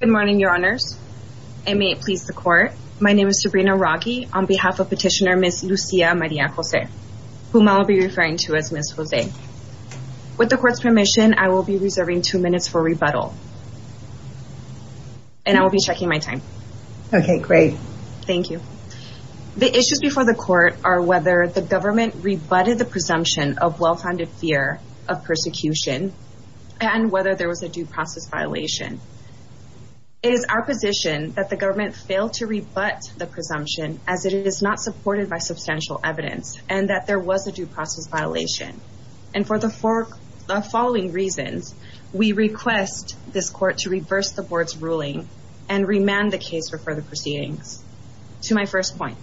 Good morning, your honors. I may please the court. My name is Sabrina Raghi on behalf of petitioner Ms. Lucia Maria Jose, whom I'll be referring to as Ms. Jose. With the court's permission, I will be reserving two minutes for rebuttal and I will be checking my time. Okay, great. Thank you. The issues before the court are whether the government rebutted the presumption of well-founded fear of persecution and whether there was a due process violation. It is our position that the government failed to rebut the presumption as it is not supported by substantial evidence and that there was a due process violation. And for the following reasons, we request this court to reverse the board's ruling and remand the case for further proceedings. To my first point,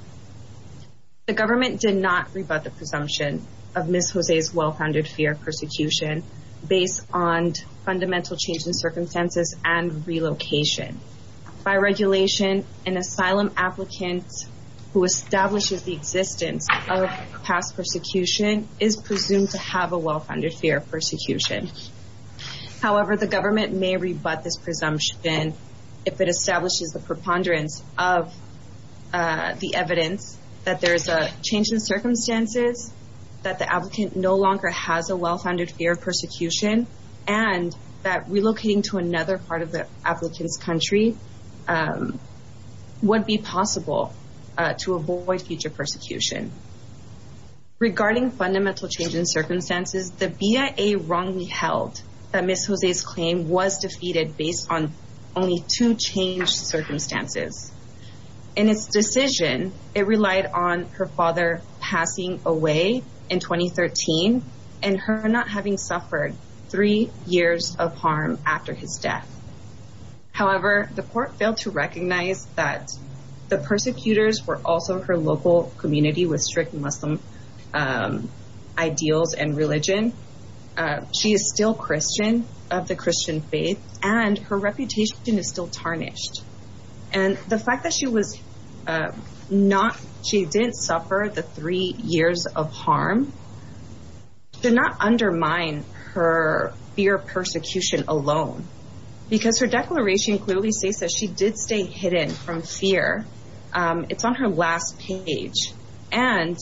the government may rebut this presumption if it establishes the preponderance of the evidence that there is a change in circumstances that the applicant no longer has a well-founded fear of persecution and that relocating to another part of the applicant's country would be possible to avoid future persecution. Regarding fundamental change in circumstances, the BIA wrongly held that Ms. Jose's claim was defeated based on only two changed circumstances. In its decision, it relied on her father passing away in 2013 and her not having suffered three years of harm after his death. However, the court failed to recognize that the persecutors were also her local community with strict Muslim ideals and religion. She is still Christian of the Christian faith and her not she didn't suffer the three years of harm did not undermine her fear of persecution alone because her declaration clearly states that she did stay hidden from fear. It's on her last page and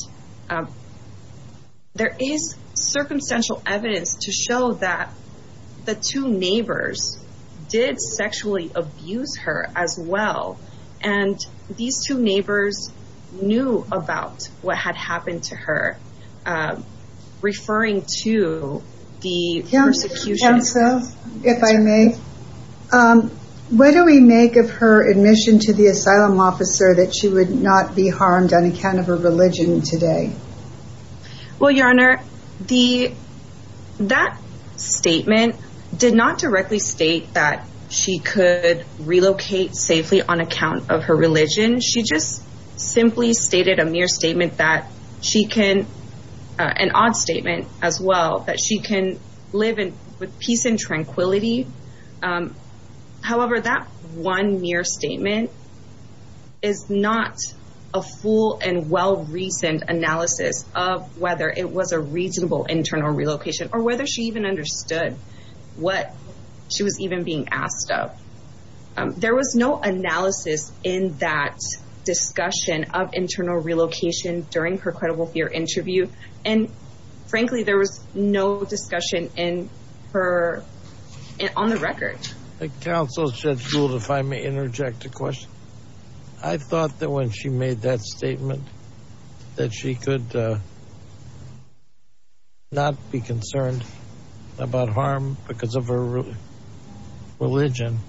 there is circumstantial evidence to show that the two neighbors did sexually abuse her as well and these two neighbors knew about what had happened to her. Referring to the persecution. What do we make of her admission to the asylum officer that she would not be harmed on account of her religion today? Well, your honor, that statement did not directly state that she could relocate safely on account of her religion. She just simply stated a mere statement that she can, an odd statement as well, that she can live in peace and tranquility. However, that one mere statement is not a full and well-reasoned analysis of whether it was a reasonable internal relocation or whether she even understood what she was even being asked of. There was no analysis in that discussion of internal relocation during her credible fear interview and frankly there was no discussion in her, on the record. Counsel Judge Gould, if I may interject a question. I thought that when she made that statement that she could not be harmed on account of her religion,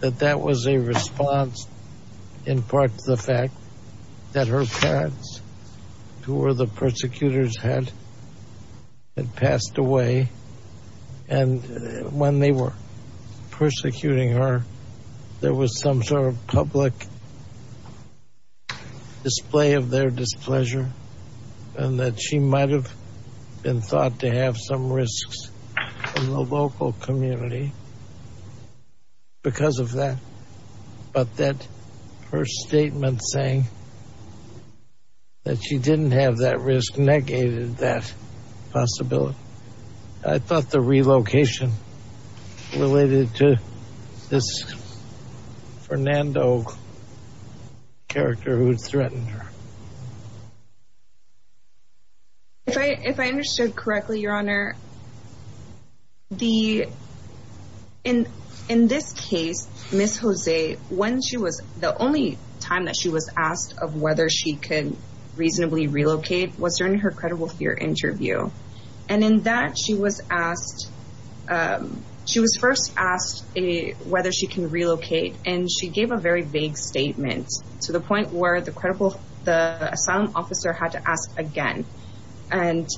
that that was a response in part to the fact that her parents, who were the persecutors, had passed away and when they were persecuting her, there was some sort of public display of their displeasure and that she might have been thought to have some risks in the local community because of that. But that her statement saying that she didn't have that risk negated that possibility. I thought the relocation related to this Fernando character who threatened her. If I understood correctly, Your Honor, in this case, Ms. Jose, the only time that she was asked of whether she could reasonably relocate was during her credible fear interview and in that she was first asked whether she can relocate and she gave a very vague statement to the point where the asylum officer had to ask again. And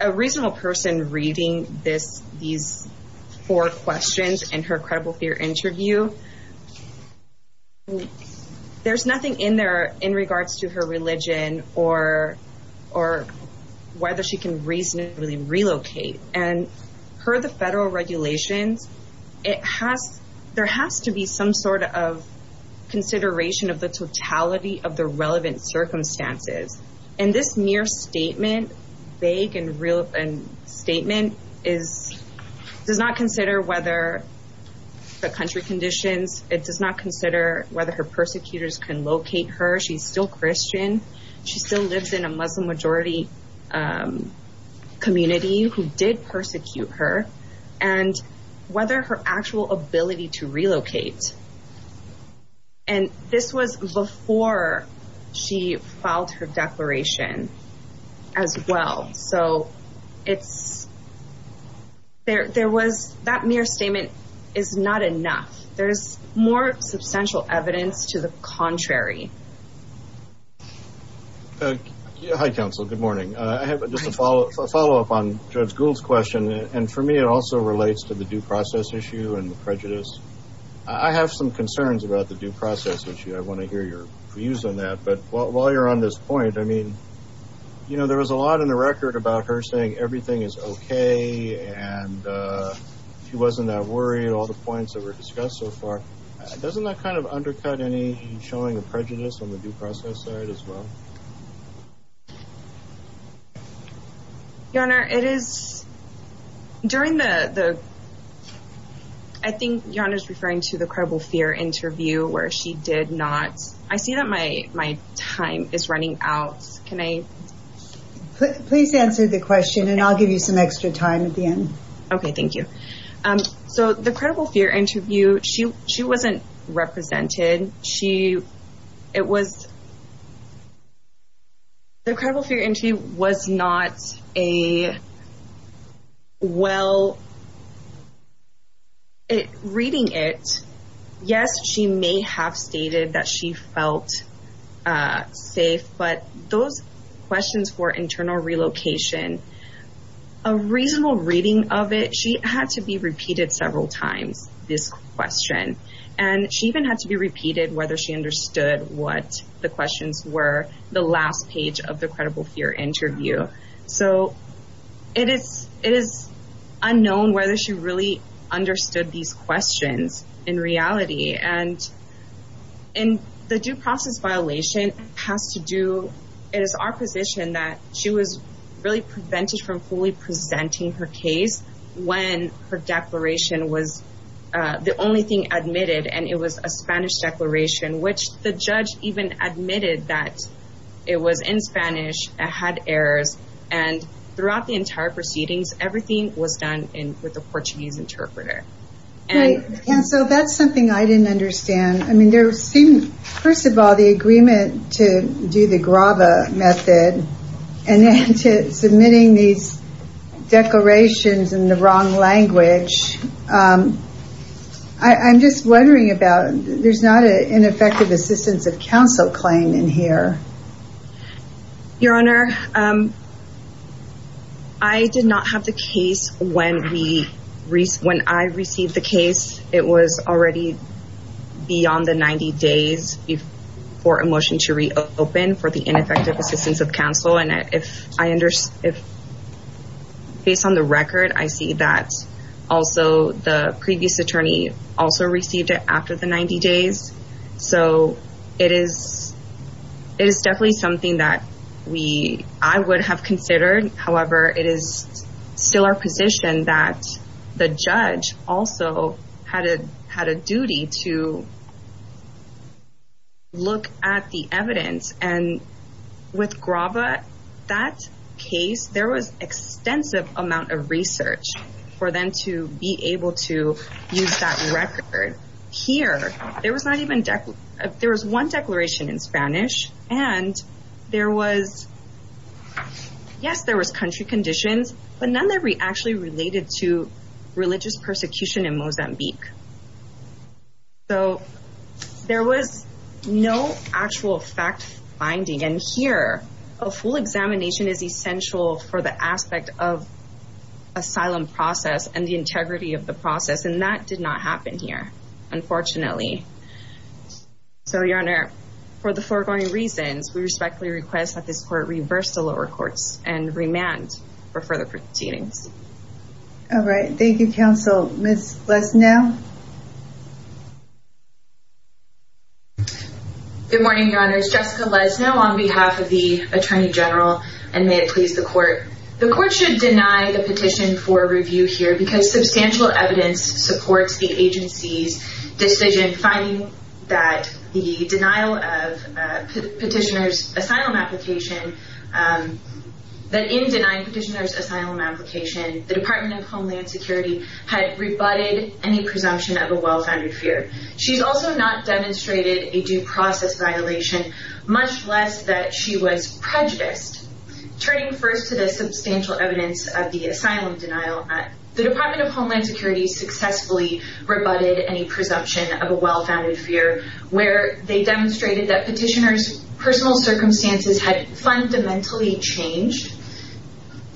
a reasonable person reading these four questions in her credible fear interview, there's nothing in there in regards to her religion or whether she can reasonably relocate. And per the federal regulations, there has to be some sort of consideration of the relevant circumstances. And this mere statement, vague and real and statement is, does not consider whether the country conditions, it does not consider whether her persecutors can locate her. She's still Christian. She still lives in a Muslim majority community who did persecute her and whether her actual ability to relocate. And this was before she filed her declaration as well. So it's, there was, that mere statement is not enough. There's more substantial evidence to the contrary. Hi, counsel. Good morning. I have a follow up on Judge Gould's question. And for me, it also relates to the due process issue and the prejudice. I have some concerns about the due process issue. I want to hear your views on that. But while you're on this point, I mean, you know, there was a lot in the record about her saying everything is okay. And she wasn't that worried, all the points that were discussed so far. Doesn't that kind of undercut any showing a prejudice on the due process side as well? Your Honor, it is, during the, I think Your Honor is referring to the credible fear interview where she did not, I see that my, my time is running out. Can I please answer the question and I'll give you some extra time at the end. Okay, thank you. So the credible fear interview, she, she wasn't represented. She, it was, the credible fear interview was not a well reading it. Yes, she may have stated that she felt safe. But those questions for internal relocation, a reasonable reading of it, she had to be repeated several times, this question. And she even had to be repeated whether she understood what the questions were, the last page of the credible fear interview. So it is, it is unknown whether she really understood these questions in reality. And in the due process violation has to do, it is our position that she was really prevented from fully presenting her case when her declaration was the only thing admitted. And it was a Spanish declaration, which the judge even admitted that it was in Spanish, it had errors. And throughout the entire proceedings, everything was done in, with the Portuguese interpreter. And so that's something I didn't understand. I mean, there seemed, first of all, the agreement to do the Grava method and then to declarations in the wrong language. I'm just wondering about, there's not an ineffective assistance of counsel claim in here. Your Honor, I did not have the case when we, when I received the case, it was already beyond the 90 days before a motion to reopen for the ineffective assistance of counsel. And if I understand, based on the record, I see that also the previous attorney also received it after the 90 days. So it is, it is definitely something that we, I would have considered. However, it is still our position that the judge also had a, had a duty to look at the with Grava, that case, there was extensive amount of research for them to be able to use that record. Here, there was not even, there was one declaration in Spanish and there was, yes, there was country conditions, but none that we actually related to religious persecution in Mozambique. So there was no actual fact finding. And here, a full examination is essential for the aspect of asylum process and the integrity of the process. And that did not happen here, unfortunately. So Your Honor, for the foregoing reasons, we respectfully request that this court reverse the lower courts and remand for further proceedings. All right. Thank you, counsel. Ms. Lesnow? Good morning, Your Honor. It's Jessica Lesnow on behalf of the Attorney General, and may it please the court. The court should deny the petition for review here because substantial evidence supports the agency's decision finding that the denial of petitioner's asylum application, that in denying petitioner's asylum application, the Department of Homeland Security had rebutted any presumption of a well-founded fear. She's also not demonstrated a due process violation, much less that she was prejudiced. Turning first to the substantial evidence of the asylum denial, the Department of Homeland Security successfully rebutted any presumption of a well-founded fear, where they demonstrated that petitioner's personal circumstances had fundamentally changed,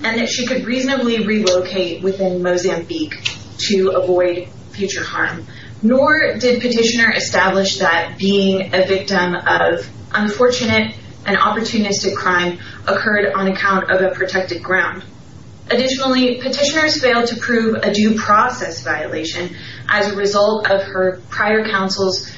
and that she could reasonably relocate within Mozambique to avoid future harm. Nor did petitioner establish that being a victim of unfortunate and opportunistic crime occurred on account of a protected ground. Additionally, petitioners failed to prove a due process violation as a result of her prior counsel's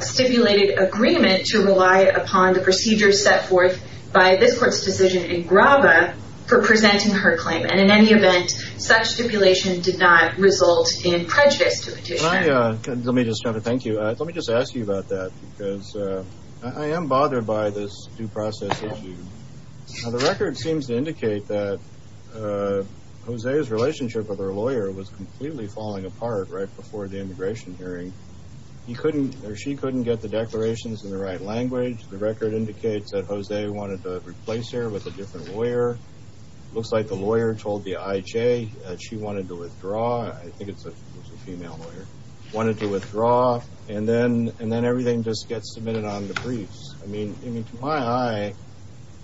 stipulated agreement to rely upon the procedures set forth by this court's decision in Graba for presenting her claim. And in any event, such stipulation did not result in prejudice to the petitioner. Let me just try to thank you. Let me just ask you about that, because I am bothered by this due process issue. The record seems to indicate that Jose's relationship with her lawyer was completely falling apart right before the immigration hearing. He couldn't, or she couldn't get the declarations in the right language. The record indicates that Jose wanted to replace her with a different lawyer. Looks like the lawyer told the IJ that she wanted to withdraw. I think it's a female lawyer. Wanted to withdraw, and then everything just gets submitted on the briefs. I mean, to my eye,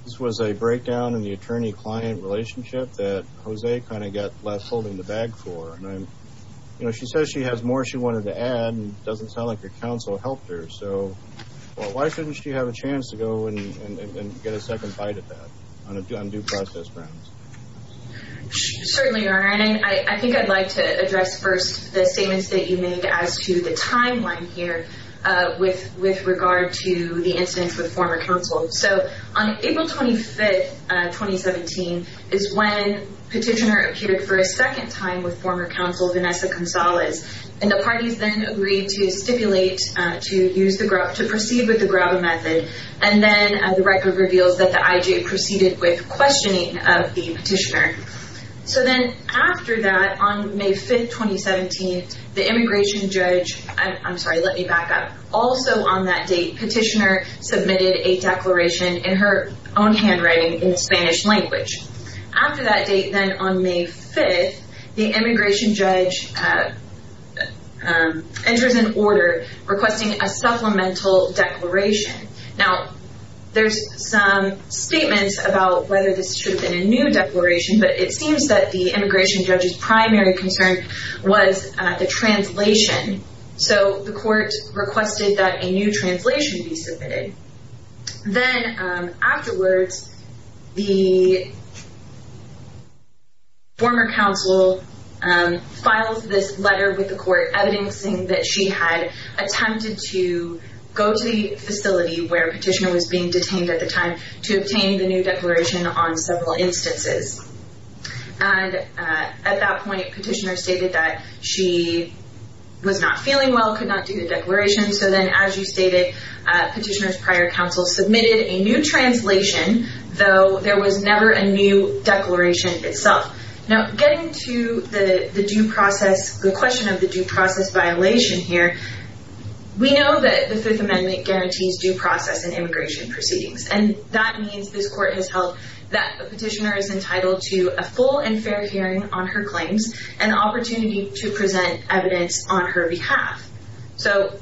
this was a breakdown in the attorney-client relationship that Jose kind of got left holding the bag for. And she says she has more she wanted to add, and it doesn't sound like her counsel helped her. So why shouldn't she have a chance to go and get a second bite at that on due process grounds? Certainly, Your Honor. And I think I'd like to address first the statements that you made as to the timeline here with regard to the incidents with former counsel. So on April 25th, 2017, is when Petitioner appeared for a second time with former counsel Vanessa Gonzalez. And the parties then agreed to stipulate to proceed with the Graba method. And then the Petitioner. So then after that, on May 5th, 2017, the immigration judge, I'm sorry, let me back up. Also on that date, Petitioner submitted a declaration in her own handwriting in Spanish language. After that date, then on May 5th, the immigration judge enters an order requesting a supplemental declaration. Now, there's some statements about whether this should have been a new declaration, but it seems that the immigration judge's primary concern was the translation. So the court requested that a new translation be submitted. Then afterwards, the former counsel files this letter with the court, evidencing that she had attempted to go to the facility where Petitioner was being detained at the time to obtain the new declaration on several instances. And at that point, Petitioner stated that she was not feeling well, could not do the declaration. So then, as you stated, Petitioner's prior counsel submitted a new translation, though there was never a new declaration itself. Now, getting to the due process, the question of the due process violation here, we know that the Fifth Amendment guarantees due process in immigration proceedings. And that means this court has held that Petitioner is entitled to a full and fair hearing on her claims and opportunity to present evidence on her behalf. So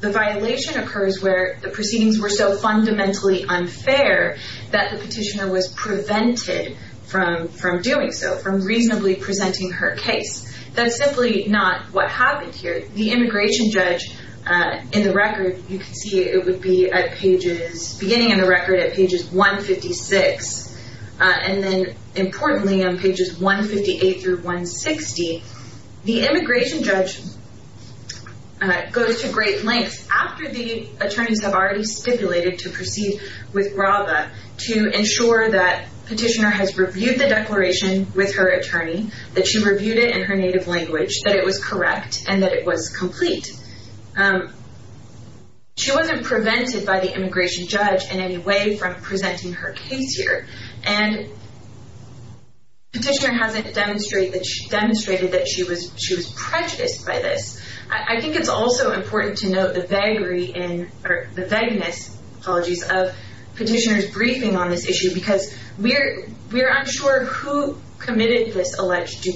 the violation occurs where the proceedings were so fundamentally unfair that the Petitioner was prevented from doing so, from reasonably presenting her case. That's simply not what happened here. The immigration judge, beginning in the record at pages 156, and then importantly on pages 158 through 160, the immigration judge goes to great lengths after the attorneys have already stipulated to proceed with GRABA to ensure that Petitioner has reviewed the declaration with her attorney, that she reviewed it in her native language, that it was correct, and that it was complete. She wasn't prevented by the immigration judge in any way from presenting her case here. And Petitioner hasn't demonstrated that she was prejudiced by this. I think it's also important to note the vagueness of Petitioner's briefing on this issue because we're unsure who committed this alleged due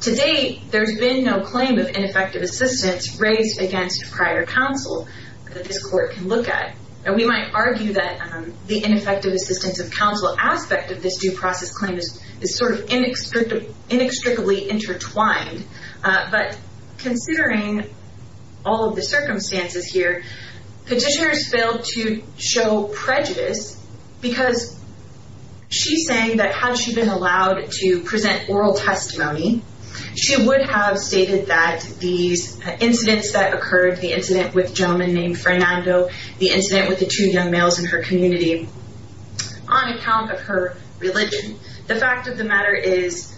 To date, there's been no claim of ineffective assistance raised against prior counsel that this court can look at. And we might argue that the ineffective assistance of counsel aspect of this due process claim is sort of inextricably intertwined. But considering all of the circumstances here, Petitioner has failed to show prejudice because she's saying that had she been allowed to present oral testimony, she would have stated that these incidents that occurred, the incident with a gentleman named Fernando, the incident with the two young males in her community, on account of her religion, the fact of the matter is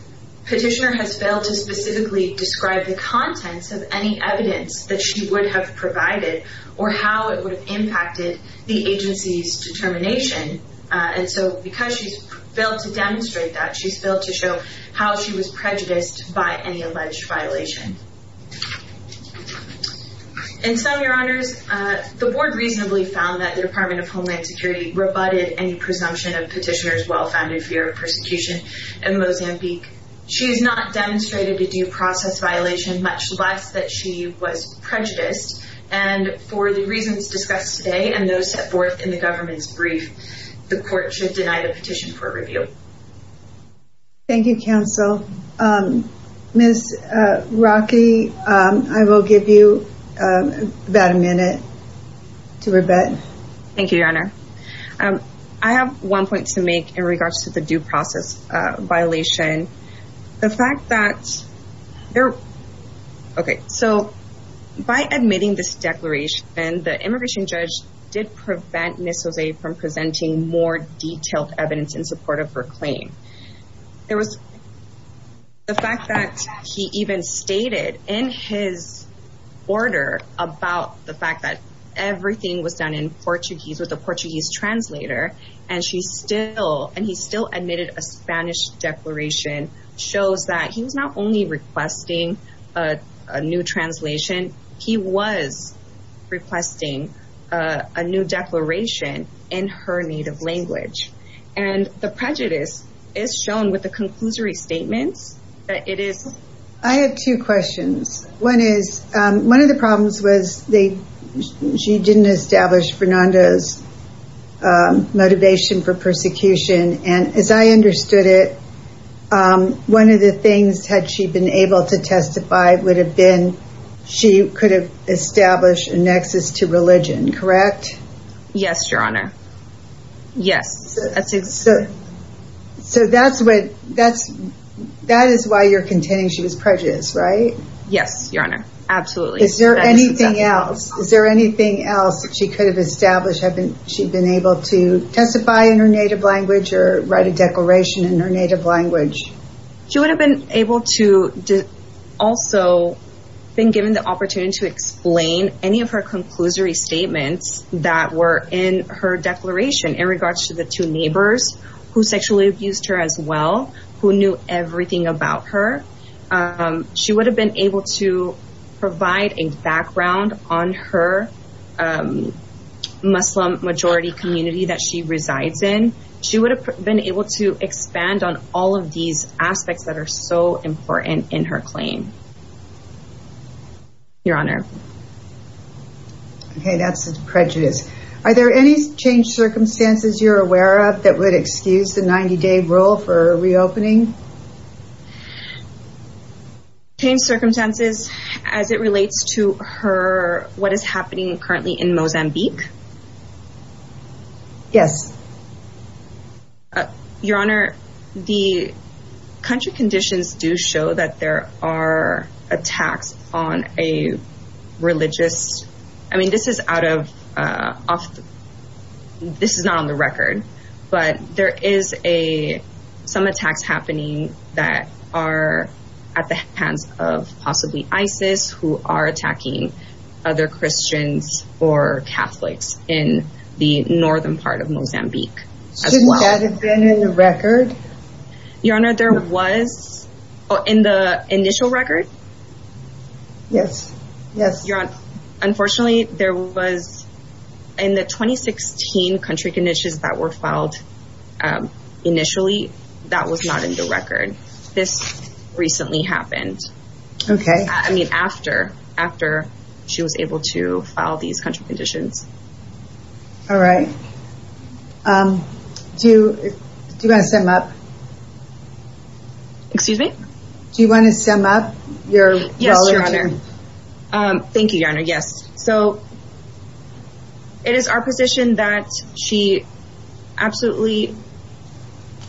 Petitioner has failed to specifically describe the contents of any evidence that she would have provided or how it would have impacted the agency's determination. And so because she's failed to demonstrate that, she's failed to show how she was prejudiced by any alleged violation. In sum, Your Honors, the Board reasonably found that the Department of Homeland Security rebutted any presumption of Petitioner's well-founded fear of persecution in Mozambique. She has not demonstrated a due process violation, much less that she was prejudiced. And for the reasons discussed today and those set forth in the government's petition for review. Thank you, counsel. Ms. Rocky, I will give you about a minute to rebut. Thank you, Your Honor. I have one point to make in regards to the due process violation. The fact that there, okay, so by admitting this declaration, the immigration judge did prevent Ms. Jose from presenting more detailed evidence in support of her claim. There was the fact that he even stated in his order about the fact that everything was done in Portuguese with a Portuguese translator, and he still admitted a Spanish declaration shows that he was not only requesting a new translation, he was requesting a new declaration in her native language. And the prejudice is shown with the conclusory statements that it is... I have two questions. One is, one of the problems was they, she didn't establish Fernanda's motivation for persecution. And as I understood it, one of the things had she been able to testify would have been, she could have established a nexus to religion, correct? Yes, Your Honor. Yes. So that's what, that's, that is why you're contending she was prejudiced, right? Yes, Your Honor. Absolutely. Is there anything else? Is there anything else that she could have established having she been able to testify in her native language or write a declaration in her native language? She would have been able to also been given the opportunity to explain any of her conclusory statements that were in her declaration in regards to the two neighbors who sexually abused her as well, who knew everything about her. She would have been able to provide a background on her Muslim majority community that she resides in. She would have been able to expand on all of these aspects that are so important in her claim. Your Honor. Okay. That's prejudice. Are there any changed circumstances you're aware of that would excuse the 90 day rule for reopening? Changed circumstances as it relates to her, what is happening currently in Mozambique? Yes. Your Honor, the country conditions do show that there are attacks on a religious, I mean, this is out of, this is not on the record, but there is a, some attacks happening that are at the hands of possibly ISIS who are attacking other Christians or Catholics in the northern part of Mozambique as well. Shouldn't that have been in the record? Your Honor, there was in the initial record? Yes. Yes. Your Honor, unfortunately there was in the 2016 country conditions that were filed initially, that was not in the record. This recently happened. Okay. I mean, after, after she was able to file these country conditions. All right. Do you want to sum up? Excuse me? Do you want to sum up? Thank you, Your Honor. Yes. So it is our position that she absolutely,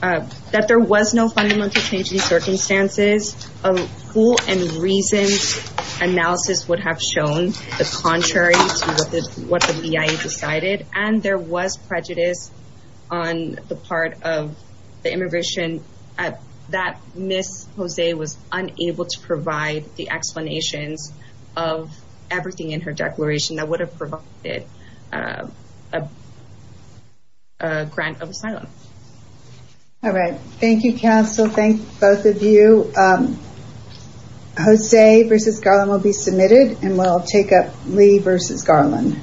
that there was no fundamental change in circumstances of who and reasons analysis would have shown the contrary to what the, what the BIA decided. And there was prejudice on the part of the immigration that Ms. Jose was unable to provide the explanations of everything in her All right. Thank you, counsel. Thank both of you. Jose versus Garland will be submitted and we'll take up Lee versus Garland.